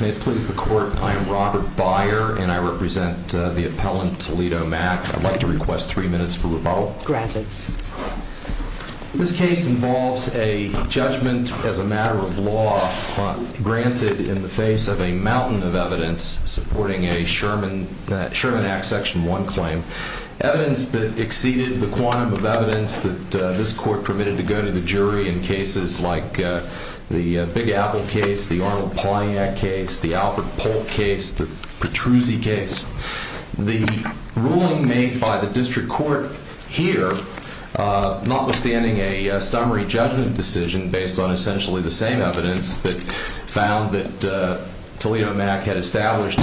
May it please the Court, I am Robert Byer and I represent the appellant Toledo Mck I'd like to request three minutes for rebuttal. Granted. This case involves a judgment as a matter of law granted in the face of a mountain of evidence supporting a Sherman Act Section 1 claim. Evidence that exceeded the quantum of evidence that this Court permitted to go to the jury in cases like the Big Apple case, the Arnold Polyak case, the Albert Polk case, the Petruzzi case. The ruling made by the District Court here, notwithstanding a summary judgment decision based on essentially the same evidence that found that Toledo Mck had established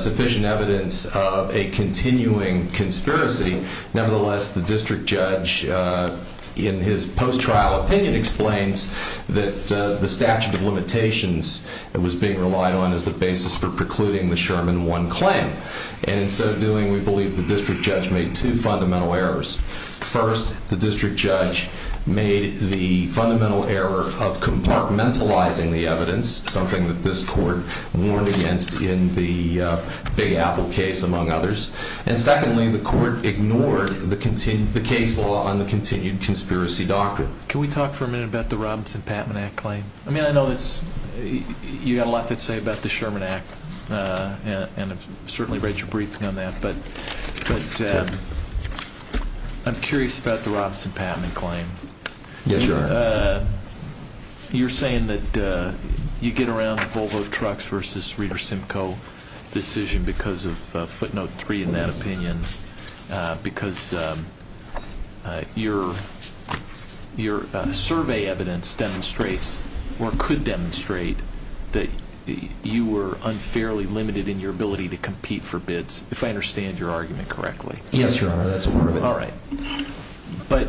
sufficient evidence of a continuing conspiracy. Nevertheless, the District Judge in his post-trial opinion explains that the statute of limitations that was being relied on as the basis for precluding the Sherman 1 claim. And in so doing, we believe the District Judge made two fundamental errors. First, the District Judge made the fundamental error of compartmentalizing the evidence, something that this Court warned against in the Big Apple case, among others. And secondly, the Court ignored the case law on the continued conspiracy doctrine. Can we talk for a minute about the Robinson-Pattman Act claim? I mean, I know you've got a lot to say about the Sherman Act, and I've certainly read your briefing on that, but I'm curious about the Robinson-Pattman claim. Yes, Your Honor. You're saying that you get around the Volvo Trucks v. Reeder-Simcoe decision because of footnote 3 in that opinion, because your survey evidence demonstrates or could demonstrate that you were unfairly limited in your ability to compete for bids, if I understand your argument correctly. Yes, Your Honor, that's correct. All right. But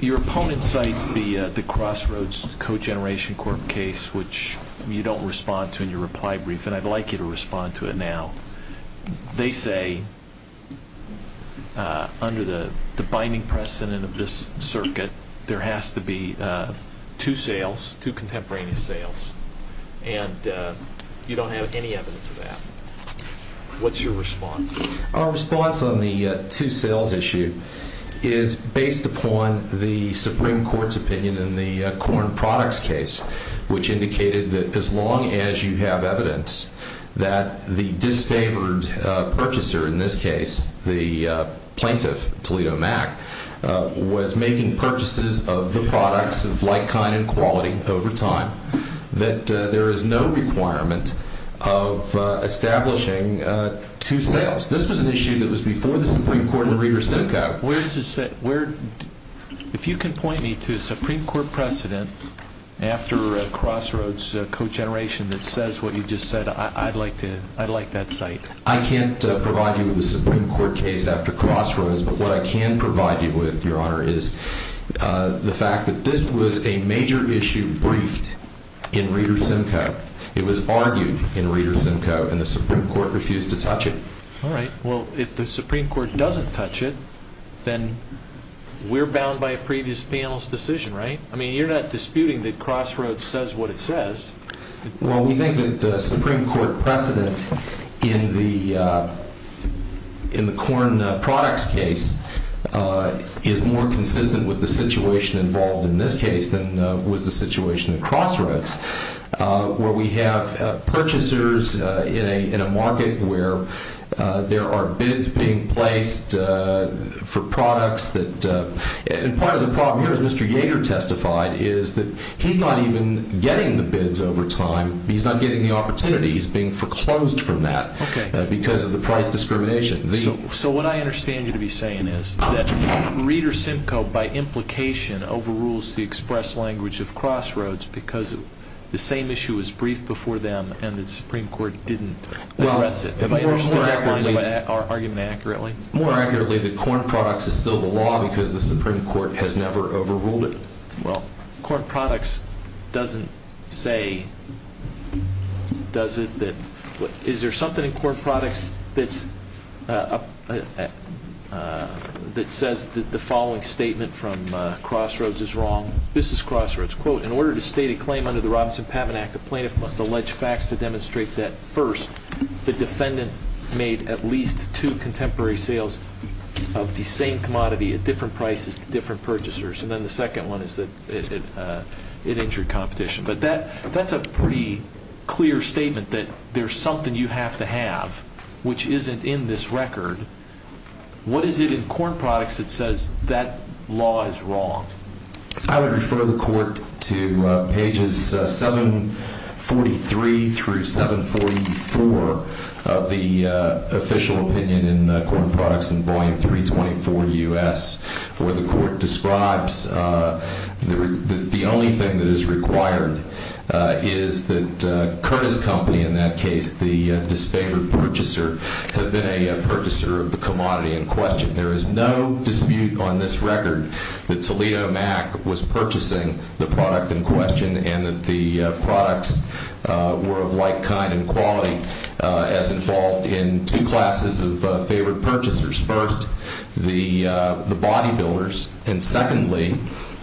your opponent cites the Crossroads Co-Generation Corp case, which you don't respond to in your reply brief, and I'd like you to respond to it now. They say, under the binding precedent of this circuit, there has to be two sales, two contemporaneous sales, and you don't have any evidence of that. What's your response? Our response on the two sales issue is based upon the Supreme Court's opinion in the Corn Products case, which indicated that as long as you have evidence that the disfavored purchaser, in this case the plaintiff, Toledo Mac, was making purchases of the products of like kind and quality over time, that there is no requirement of establishing two sales. This was an issue that was before the Supreme Court and Reeder-Simcoe. If you can point me to a Supreme Court precedent after Crossroads Co-Generation that says what you just said, I'd like that cite. I can't provide you with a Supreme Court case after Crossroads, but what I can provide you with, Your Honor, is the fact that this was a major issue briefed in Reeder-Simcoe. It was argued in Reeder-Simcoe, and the Supreme Court refused to touch it. All right. Well, if the Supreme Court doesn't touch it, then we're bound by a previous panel's decision, right? I mean, you're not disputing that Crossroads says what it says. Well, we think that the Supreme Court precedent in the corn products case is more consistent with the situation involved in this case than was the situation in Crossroads, where we have purchasers in a market where there are bids being placed for products. And part of the problem here, as Mr. Yager testified, is that he's not even getting the bids over time. He's not getting the opportunity. He's being foreclosed from that because of the price discrimination. So what I understand you to be saying is that Reeder-Simcoe, by implication, overrules the express language of Crossroads because the same issue was briefed before them and the Supreme Court didn't address it. Have I understood that line of argument accurately? More accurately, the corn products is still the law because the Supreme Court has never overruled it. Well, corn products doesn't say, does it? Is there something in corn products that says that the following statement from Crossroads is wrong? This is Crossroads. Quote, in order to state a claim under the Robinson-Pavinak, the plaintiff must allege facts to demonstrate that, first, the defendant made at least two contemporary sales of the same commodity at different prices to different purchasers. And then the second one is that it injured competition. But that's a pretty clear statement that there's something you have to have which isn't in this record. What is it in corn products that says that law is wrong? I would refer the Court to pages 743 through 744 of the official opinion in corn products in Volume 324 U.S. where the Court describes that the only thing that is required is that Curtis Company, in that case, the disfavored purchaser, had been a purchaser of the commodity in question. There is no dispute on this record that Toledo Mac was purchasing the product in question and that the products were of like kind and quality as involved in two classes of favored purchasers. First, the bodybuilders, and secondly,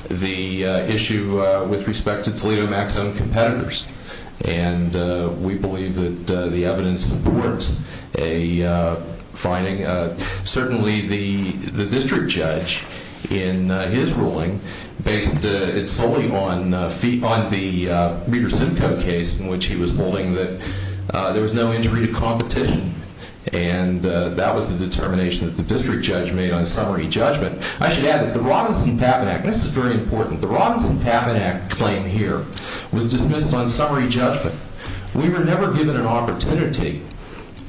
the issue with respect to Toledo Mac's own competitors. And we believe that the evidence supports a finding. Certainly, the district judge, in his ruling, based it solely on the Meaders-Zunko case in which he was holding that there was no injury to competition. And that was the determination that the district judge made on summary judgment. I should add that the Robinson-Pavinak, and this is very important, the Robinson-Pavinak claim here was dismissed on summary judgment. We were never given an opportunity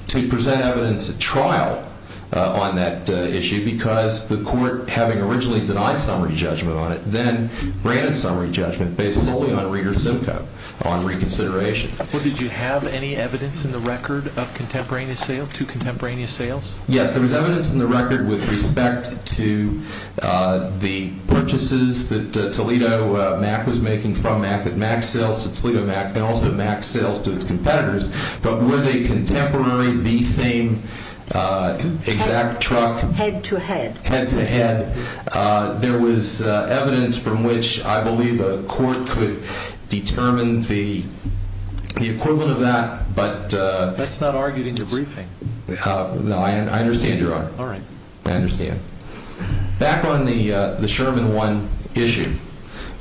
to present evidence at trial on that issue because the Court, having originally denied summary judgment on it, then granted summary judgment based solely on Meaders-Zunko on reconsideration. Well, did you have any evidence in the record of contemporaneous sales, two contemporaneous sales? Yes, there was evidence in the record with respect to the purchases that Toledo Mac was making from Mac, both at Mac sales to Toledo Mac and also at Mac sales to its competitors. But were they contemporary, the same exact truck? Head to head. Head to head. There was evidence from which I believe the Court could determine the equivalent of that. That's not argued in the briefing. No, I understand, Your Honor. All right. I understand. Back on the Sherman One issue,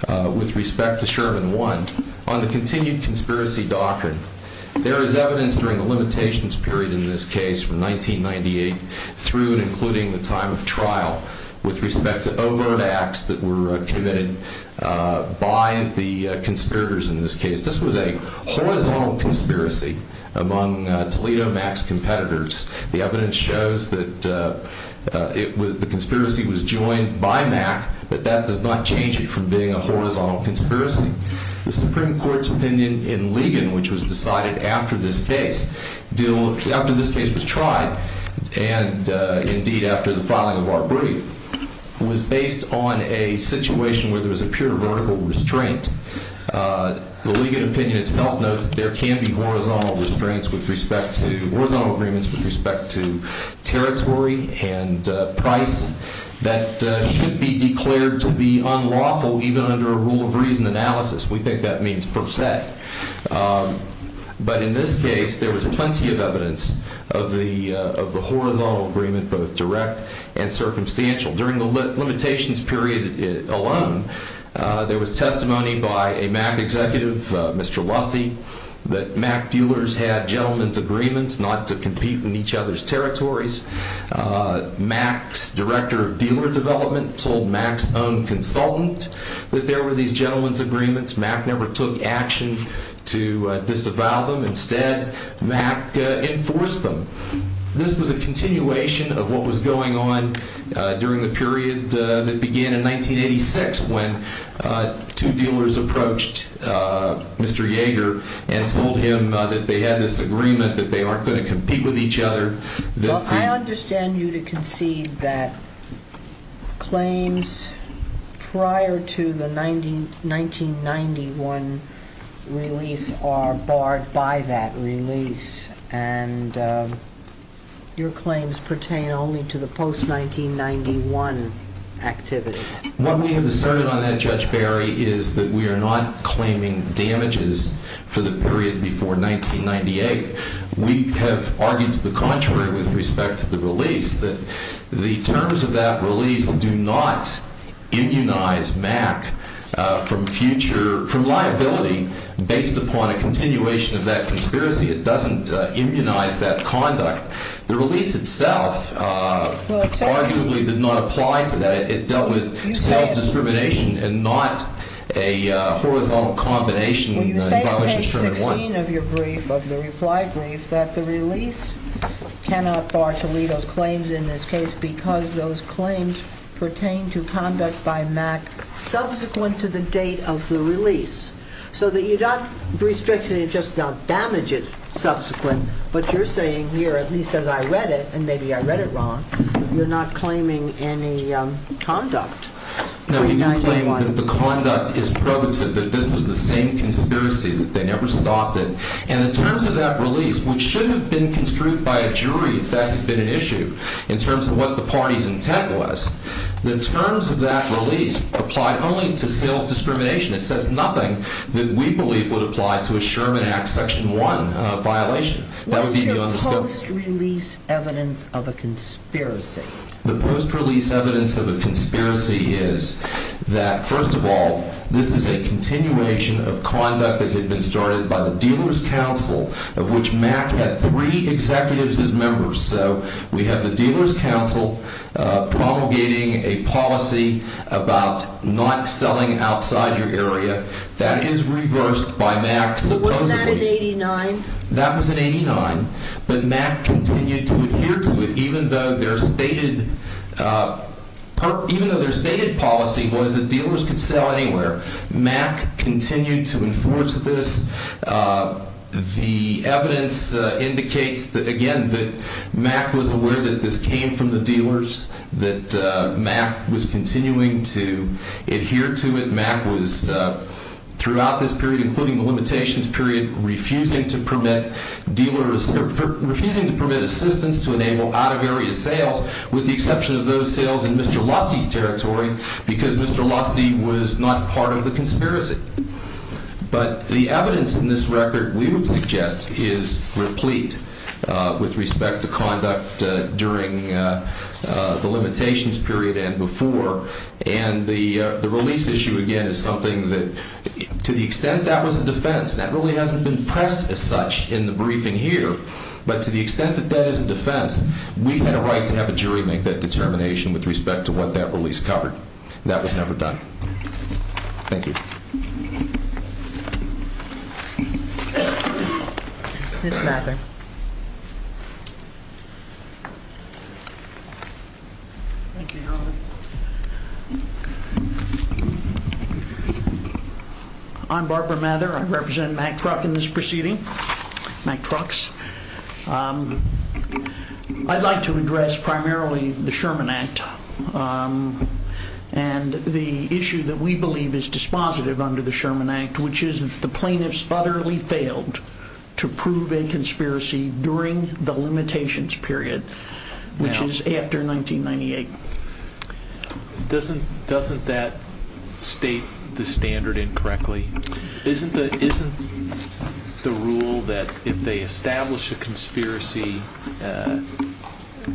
with respect to Sherman One, on the continued conspiracy doctrine, there is evidence during the limitations period in this case from 1998 through and including the time of trial with respect to overt acts that were committed by the conspirators in this case. This was a horizontal conspiracy among Toledo Mac's competitors. The evidence shows that the conspiracy was joined by Mac, but that does not change it from being a horizontal conspiracy. The Supreme Court's opinion in Ligon, which was decided after this case, after this case was tried and indeed after the filing of our brief, was based on a situation where there was a pure vertical restraint. The Ligon opinion itself notes there can be horizontal restraints with respect to horizontal agreements with respect to territory and price that should be declared to be unlawful even under a rule of reason analysis. We think that means per se. But in this case, there was plenty of evidence of the horizontal agreement, both direct and circumstantial. During the limitations period alone, there was testimony by a Mac executive, Mr. Lusty, that Mac dealers had gentlemen's agreements not to compete in each other's territories. Mac's director of dealer development told Mac's own consultant that there were these gentlemen's agreements. Mac never took action to disavow them. Instead, Mac enforced them. This was a continuation of what was going on during the period that began in 1986 when two dealers approached Mr. Yeager and told him that they had this agreement, that they aren't going to compete with each other. Well, I understand you to concede that claims prior to the 1991 release are barred by that release and your claims pertain only to the post-1991 activities. What we have asserted on that, Judge Barry, is that we are not claiming damages for the period before 1998. We have argued to the contrary with respect to the release, that the terms of that release do not immunize Mac from future liability based upon a continuation of that conspiracy. It doesn't immunize that conduct. The release itself arguably did not apply to that. It dealt with self-discrimination and not a horizontal combination. When you say on page 16 of your brief, of the reply brief, that the release cannot bar Toledo's claims in this case because those claims pertain to conduct by Mac subsequent to the date of the release, so that you're not restricting it just about damages subsequent, but you're saying here, at least as I read it, and maybe I read it wrong, you're not claiming any conduct. No, we do claim that the conduct is probative, that this was the same conspiracy, that they never stopped it. And the terms of that release, which should have been construed by a jury if that had been an issue, in terms of what the party's intent was, the terms of that release applied only to sales discrimination. It says nothing that we believe would apply to a Sherman Act Section 1 violation. That would be beyond the scope. What's your post-release evidence of a conspiracy? The post-release evidence of a conspiracy is that, first of all, this is a continuation of conduct that had been started by the Dealers' Council, of which Mac had three executives as members. So we have the Dealers' Council promulgating a policy about not selling outside your area. That is reversed by Mac, supposedly. But wasn't that in 89? That was in 89. But Mac continued to adhere to it, even though their stated policy was that dealers could sell anywhere. Mac continued to enforce this. The evidence indicates, again, that Mac was aware that this came from the dealers, that Mac was continuing to adhere to it. Mac was, throughout this period, including the limitations period, refusing to permit assistance to enable out-of-area sales, with the exception of those sales in Mr. Lusty's territory, because Mr. Lusty was not part of the conspiracy. But the evidence in this record, we would suggest, is replete with respect to conduct during the limitations period and before. And the release issue, again, is something that, to the extent that was a defense, that really hasn't been pressed as such in the briefing here. But to the extent that that is a defense, we had a right to have a jury make that determination with respect to what that release covered. That was never done. Thank you. Ms. Mather. Thank you, Your Honor. I'm Barbara Mather. I represent Mac Truck in this proceeding, Mac Trucks. I'd like to address primarily the Sherman Act and the issue that we believe is dispositive under the Sherman Act, which is that the plaintiffs utterly failed to prove a conspiracy during the limitations period, which is after 1998. Doesn't that state the standard incorrectly? Isn't the rule that if they establish a conspiracy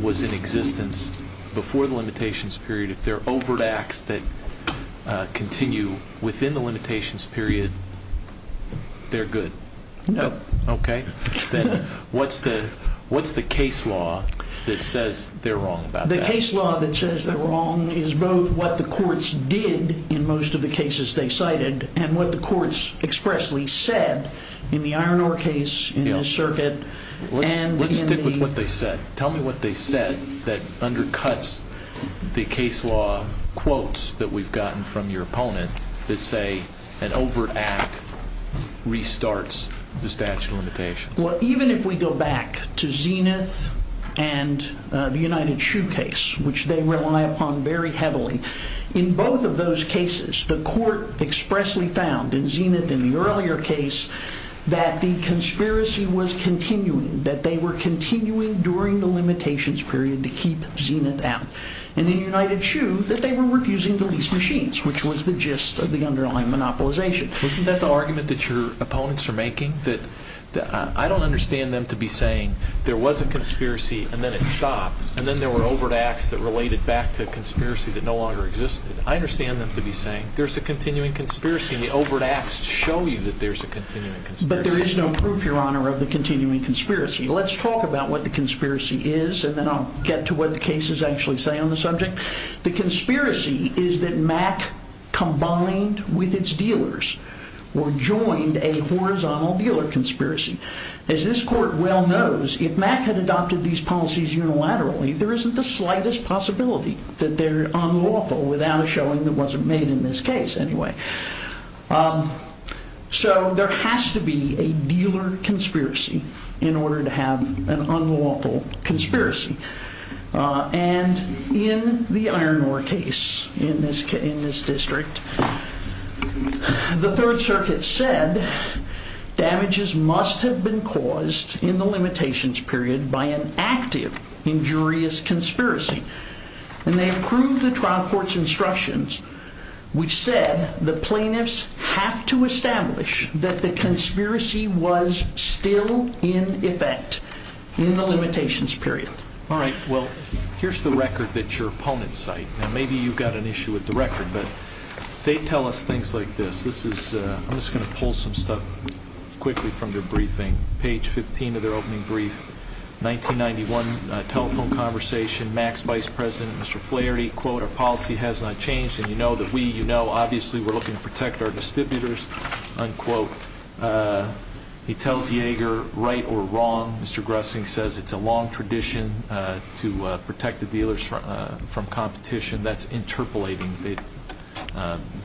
was in existence before the limitations period, if there are overt acts that continue within the limitations period, they're good? No. Okay. Then what's the case law that says they're wrong about that? The case law that says they're wrong is both what the courts did in most of the cases they cited and what the courts expressly said in the Iron Ore case, in this circuit, and in the... Let's stick with what they said. Tell me what they said that undercuts the case law quotes that we've gotten from your opponent that say an overt act restarts the statute of limitations. Well, even if we go back to Zenith and the United Shoe case, which they rely upon very heavily, in both of those cases, the court expressly found in Zenith in the earlier case that the conspiracy was continuing, that they were continuing during the limitations period to keep Zenith out. In the United Shoe, that they were refusing to lease machines, which was the gist of the underlying monopolization. Isn't that the argument that your opponents are making? That I don't understand them to be saying there was a conspiracy and then it stopped, and then there were overt acts that related back to a conspiracy that no longer existed. I understand them to be saying there's a continuing conspiracy, and the overt acts show you that there's a continuing conspiracy. But there is no proof, Your Honor, of the continuing conspiracy. Let's talk about what the conspiracy is, and then I'll get to what the cases actually say on the subject. The conspiracy is that MAC combined with its dealers, or joined a horizontal dealer conspiracy. As this court well knows, if MAC had adopted these policies unilaterally, there isn't the slightest possibility that they're unlawful without a showing that wasn't made in this case, anyway. So there has to be a dealer conspiracy in order to have an unlawful conspiracy. And in the Iron Ore case in this district, the Third Circuit said damages must have been caused in the limitations period by an active injurious conspiracy. And they approved the trial court's instructions, which said the plaintiffs have to establish that the conspiracy was still in effect in the limitations period. All right. Well, here's the record that your opponents cite. Now, maybe you've got an issue with the record, but they tell us things like this. I'm just going to pull some stuff quickly from their briefing. Page 15 of their opening brief, 1991 telephone conversation. MAC's vice president, Mr. Flaherty, quote, our policy has not changed, and you know that we, you know, obviously we're looking to protect our distributors, unquote. He tells Yeager, right or wrong, Mr. Gressing says it's a long tradition to protect the dealers from competition. That's interpolating.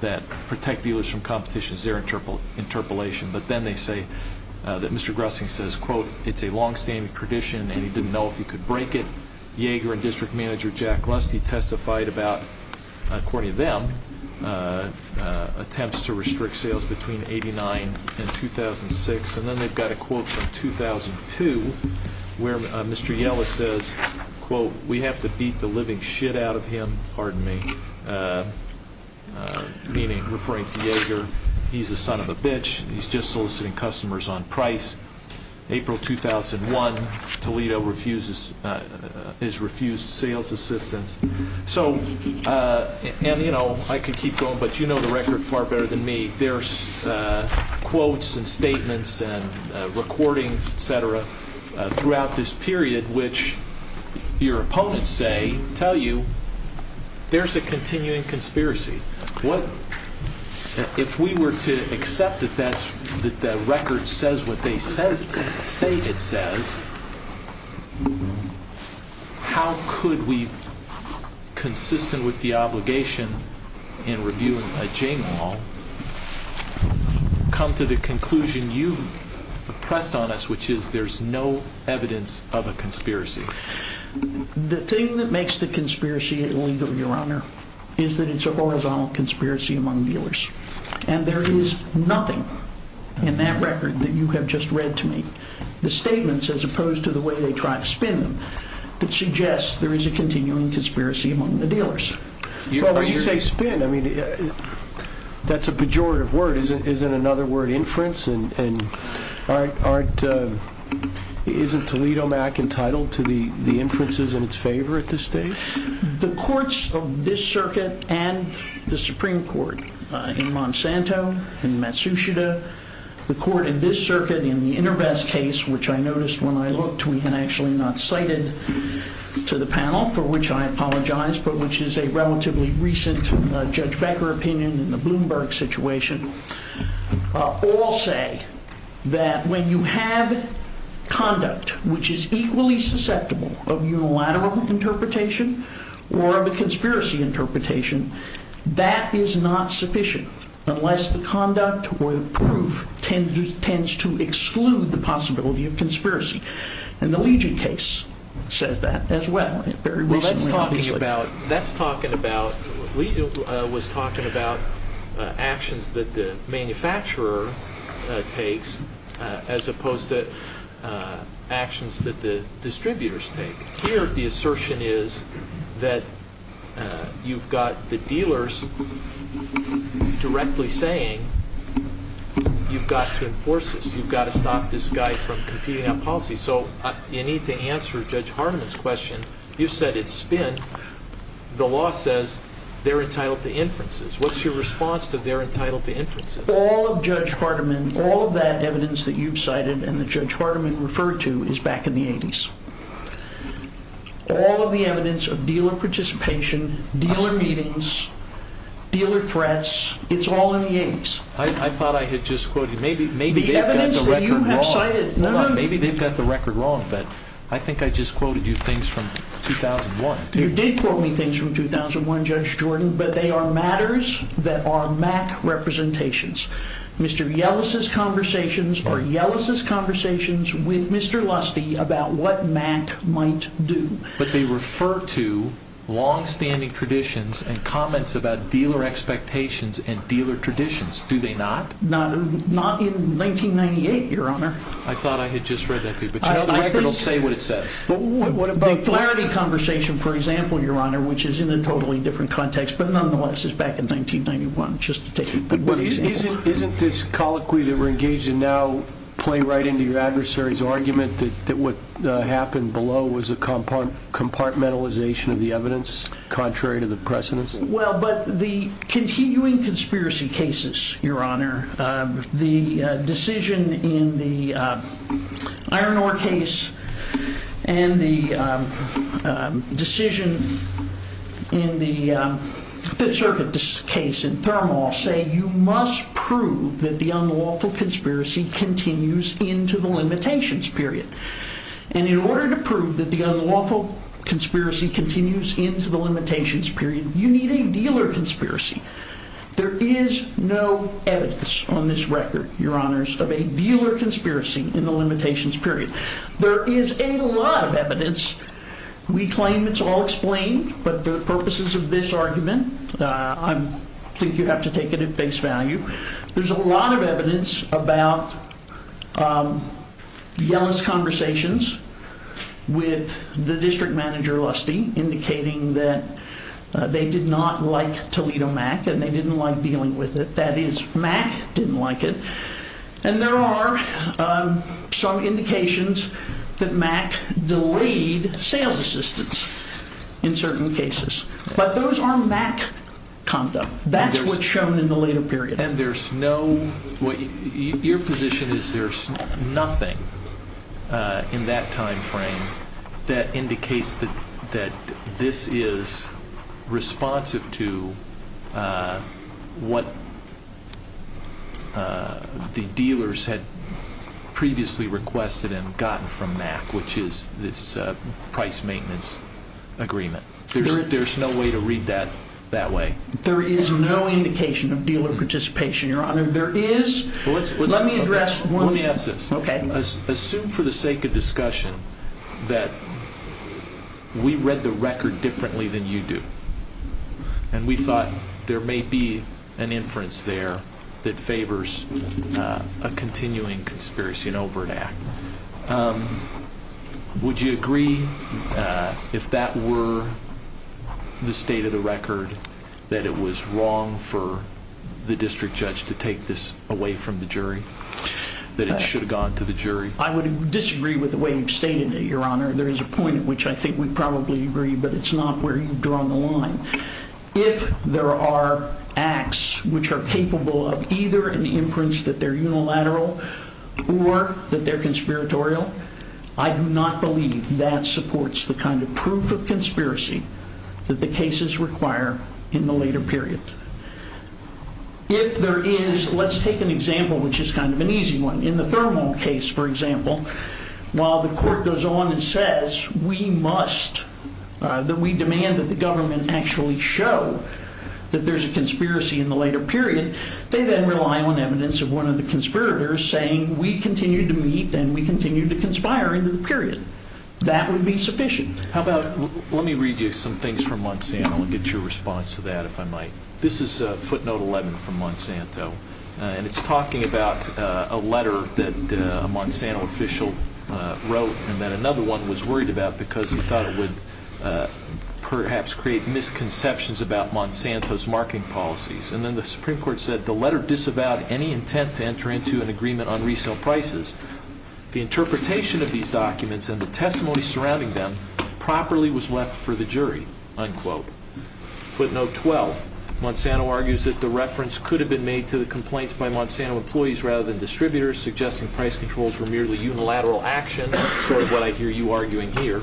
That protect dealers from competition is their interpolation. But then they say that Mr. Gressing says, quote, it's a longstanding tradition, and he didn't know if he could break it. Yeager and district manager Jack Rusty testified about, according to them, attempts to restrict sales between 89 and 2006. And then they've got a quote from 2002 where Mr. Yeller says, quote, we have to beat the living shit out of him, pardon me, meaning referring to Yeager, he's a son of a bitch, he's just soliciting customers on price. April 2001, Toledo is refused sales assistance. So, and you know, I could keep going, but you know the record far better than me. There's quotes and statements and recordings, et cetera, throughout this period, in which your opponents say, tell you, there's a continuing conspiracy. What, if we were to accept that that's, that the record says what they say it says, how could we, consistent with the obligation in reviewing a Jane Wall, come to the conclusion you've pressed on us, which is there's no evidence of a conspiracy? The thing that makes the conspiracy illegal, your honor, is that it's a horizontal conspiracy among dealers. And there is nothing in that record that you have just read to me. The statements, as opposed to the way they try to spin them, that suggests there is a continuing conspiracy among the dealers. Well, when you say spin, I mean, that's a pejorative word, isn't another word inference? And aren't, isn't Toledo Mac entitled to the inferences in its favor at this stage? The courts of this circuit and the Supreme Court in Monsanto, in Matsushita, the court in this circuit in the InterVest case, which I noticed when I looked, and actually not cited to the panel, for which I apologize, but which is a relatively recent Judge Becker opinion in the Bloomberg situation, all say that when you have conduct which is equally susceptible of unilateral interpretation, or of a conspiracy interpretation, that is not sufficient, unless the conduct or the proof tends to exclude the possibility of conspiracy. And the Legion case says that as well. Well, that's talking about, Legion was talking about actions that the manufacturer takes, as opposed to actions that the distributors take. Here, the assertion is that you've got the dealers directly saying, you've got to enforce this. You've got to stop this guy from competing on policy. So you need to answer Judge Hardiman's question. You said it's spin. The law says they're entitled to inferences. What's your response to they're entitled to inferences? All of Judge Hardiman, all of that evidence that you've cited and that Judge Hardiman referred to, is back in the 80s. All of the evidence of dealer participation, dealer meetings, dealer threats, it's all in the 80s. I thought I had just quoted you. Maybe they've got the record wrong. Maybe they've got the record wrong, but I think I just quoted you things from 2001. You did quote me things from 2001, Judge Jordan, but they are matters that are MAC representations. Mr. Yellis's conversations are Yellis's conversations with Mr. Lusty about what MAC might do. But they refer to longstanding traditions and comments about dealer expectations and dealer traditions, do they not? Not in 1998, Your Honor. I thought I had just read that to you. But the record will say what it says. The Flaherty conversation, for example, Your Honor, which is in a totally different context, but nonetheless is back in 1991, just to take a quick example. Isn't this colloquy that we're engaged in now play right into your adversary's argument that what happened below was a compartmentalization of the evidence contrary to the precedence? Well, but the continuing conspiracy cases, Your Honor, the decision in the Iron Ore case and the decision in the Fifth Circuit case in Thermal, say you must prove that the unlawful conspiracy continues into the limitations period. And in order to prove that the unlawful conspiracy continues into the limitations period, you need a dealer conspiracy. There is no evidence on this record, Your Honors, of a dealer conspiracy in the limitations period. There is a lot of evidence. We claim it's all explained. But for the purposes of this argument, I think you have to take it at face value. There's a lot of evidence about Yellin's conversations with the district manager, Lusty, indicating that they did not like Toledo Mac and they didn't like dealing with it. That is, Mac didn't like it. And there are some indications that Mac delayed sales assistance in certain cases. But those are Mac conduct. That's what's shown in the later period. Your position is there's nothing in that time frame that indicates that this is responsive to what the dealers had previously requested and gotten from Mac, which is this price maintenance agreement. There's no way to read that that way. There is no indication of dealer participation, Your Honor. There is. Let me address one. Let me ask this. Okay. Assume for the sake of discussion that we read the record differently than you do and we thought there may be an inference there that favors a continuing conspiracy and overt act. Would you agree, if that were the state of the record, that it was wrong for the district judge to take this away from the jury, that it should have gone to the jury? I would disagree with the way you've stated it, Your Honor. There is a point at which I think we probably agree, but it's not where you've drawn the line. If there are acts which are capable of either an inference that they're unilateral or that they're conspiratorial, I do not believe that supports the kind of proof of conspiracy that the cases require in the later period. If there is, let's take an example which is kind of an easy one. In the Thurmond case, for example, while the court goes on and says that we demand that the government actually show that there's a conspiracy in the later period, they then rely on evidence of one of the conspirators saying we continue to meet and we continue to conspire in the period. That would be sufficient. Let me read you some things from Monsanto and get your response to that, if I might. This is footnote 11 from Monsanto. And it's talking about a letter that a Monsanto official wrote and then another one was worried about because he thought it would perhaps create misconceptions about Monsanto's marketing policies. And then the Supreme Court said the letter disavowed any intent to enter into an agreement on resale prices. The interpretation of these documents and the testimony surrounding them properly was left for the jury, unquote. Footnote 12, Monsanto argues that the reference could have been made to the complaints by Monsanto employees rather than distributors, suggesting price controls were merely unilateral action, sort of what I hear you arguing here,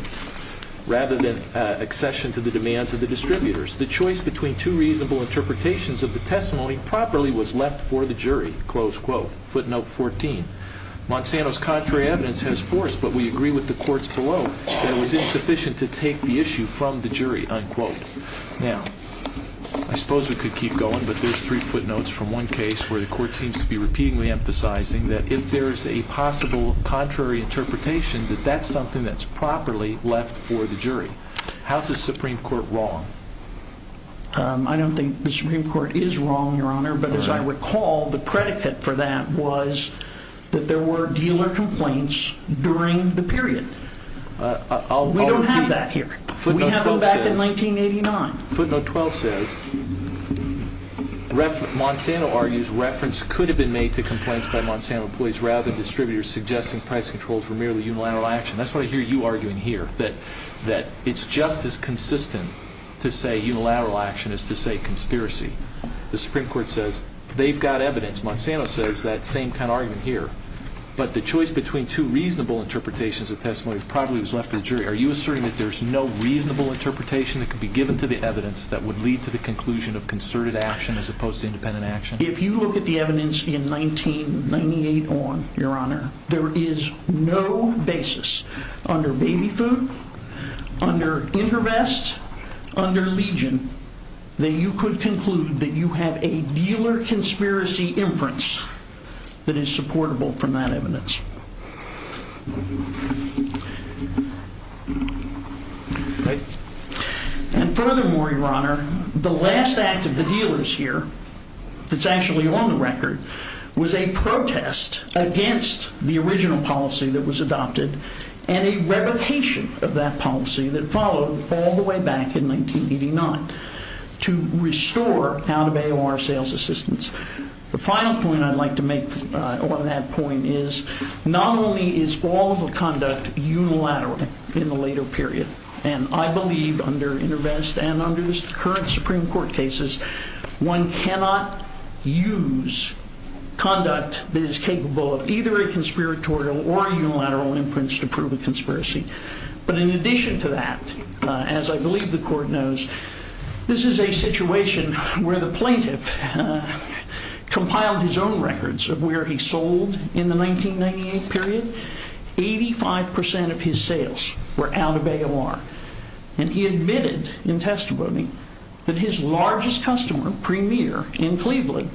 rather than accession to the demands of the distributors. The choice between two reasonable interpretations of the testimony properly was left for the jury, close quote. Footnote 14, Monsanto's contrary evidence has forced, but we agree with the courts below, that it was insufficient to take the issue from the jury, unquote. Now, I suppose we could keep going, but there's three footnotes from one case where the court seems to be repeatedly emphasizing that if there is a possible contrary interpretation, that that's something that's properly left for the jury. How is the Supreme Court wrong? I don't think the Supreme Court is wrong, Your Honor, but as I recall, the predicate for that was that there were dealer complaints during the period. We don't have that here. We have them back in 1989. Footnote 12 says, Monsanto argues reference could have been made to complaints by Monsanto employees rather than distributors, suggesting price controls were merely unilateral action. That's what I hear you arguing here, that it's just as consistent to say unilateral action as to say conspiracy. The Supreme Court says they've got evidence. Monsanto says that same kind of argument here, but the choice between two reasonable interpretations of testimony probably was left for the jury. Are you asserting that there's no reasonable interpretation that could be given to the evidence that would lead to the conclusion of concerted action as opposed to independent action? If you look at the evidence in 1998 on, Your Honor, there is no basis under Baby Food, under InterVest, under Legion, that you could conclude that you have a dealer conspiracy inference that is supportable from that evidence. Furthermore, Your Honor, the last act of the dealers here, that's actually on the record, was a protest against the original policy that was adopted and a revocation of that policy that followed all the way back in 1989 to restore out-of-AOR sales assistance. The final point I'd like to make on that point is, not only is all of the conduct unilateral in the later period, and I believe under InterVest and under the current Supreme Court cases, one cannot use conduct that is capable of either a conspiratorial or unilateral inference to prove a conspiracy. But in addition to that, as I believe the Court knows, this is a situation where the plaintiff compiled his own records of where he sold in the 1998 period. Eighty-five percent of his sales were out-of-AOR. And he admitted in testimony that his largest customer, Premier, in Cleveland,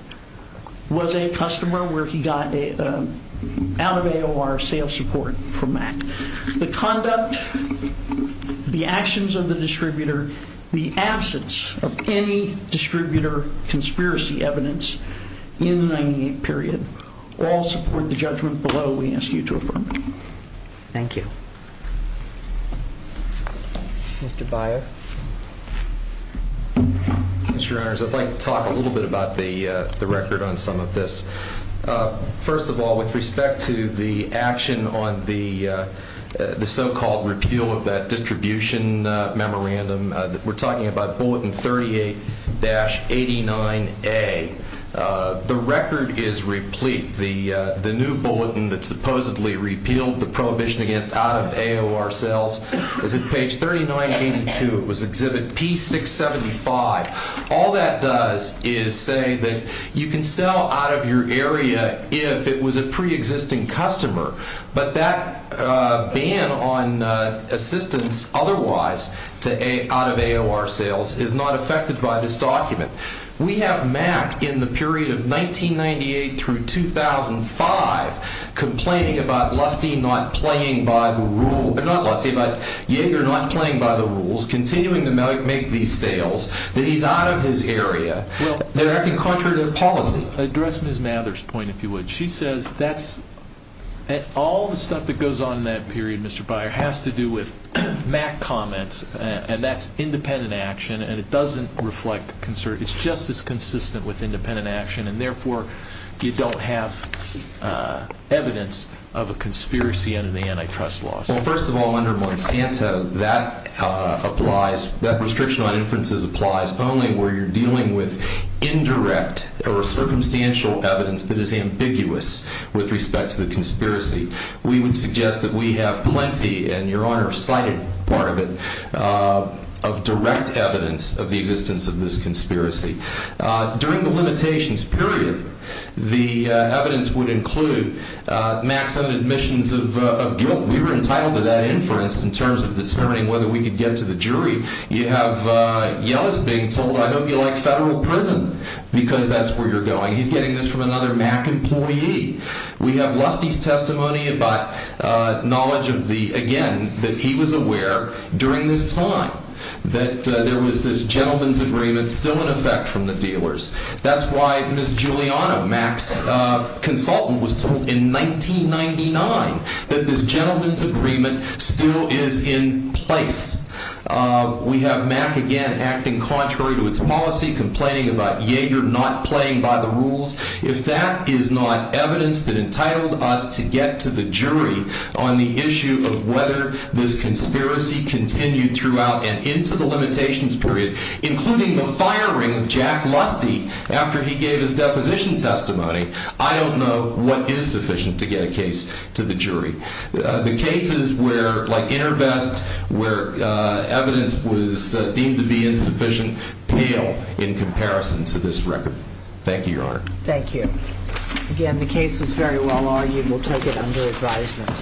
was a customer where he got out-of-AOR sales support from Mac. The conduct, the actions of the distributor, the absence of any distributor conspiracy evidence in the 1998 period all support the judgment below we ask you to affirm. Thank you. Mr. Byer. Mr. Reynolds, I'd like to talk a little bit about the record on some of this. First of all, with respect to the action on the so-called repeal of that distribution memorandum, we're talking about Bulletin 38-89A. The record is replete. The new bulletin that supposedly repealed the prohibition against out-of-AOR sales is at page 3982. It was Exhibit P675. All that does is say that you can sell out of your area if it was a preexisting customer, but that ban on assistance otherwise out-of-AOR sales is not affected by this document. We have Mac in the period of 1998 through 2005 complaining about Lusty not playing by the rules, continuing to make these sales, that he's out of his area. They're acting contrary to policy. To address Ms. Mather's point, if you would, she says that all the stuff that goes on in that period, Mr. Byer, has to do with Mac comments, and that's independent action, and it doesn't reflect concern. It's just as consistent with independent action, and therefore you don't have evidence of a conspiracy under the antitrust laws. Well, first of all, under Monsanto, that applies. That restriction on inferences applies only where you're dealing with indirect or circumstantial evidence that is ambiguous with respect to the conspiracy. We would suggest that we have plenty, and Your Honor cited part of it, of direct evidence of the existence of this conspiracy. During the limitations period, the evidence would include Mac's own admissions of guilt. We were entitled to that inference in terms of determining whether we could get to the jury. You have Yellis being told, I hope you like federal prison because that's where you're going. He's getting this from another Mac employee. We have Lusty's testimony about knowledge of the, again, that he was aware during this time that there was this gentleman's agreement still in effect from the dealers. That's why Ms. Giuliano, Mac's consultant, was told in 1999 that this gentleman's agreement still is in place. We have Mac again acting contrary to its policy, complaining about Yeager not playing by the rules. If that is not evidence that entitled us to get to the jury on the issue of whether this conspiracy continued throughout and into the limitations period, including the firing of Jack Lusty after he gave his deposition testimony, I don't know what is sufficient to get a case to the jury. The cases where, like InterVest, where evidence was deemed to be insufficient, pale in comparison to this record. Thank you, Your Honor. Thank you. Again, the case is very well argued. We'll take it under advisement.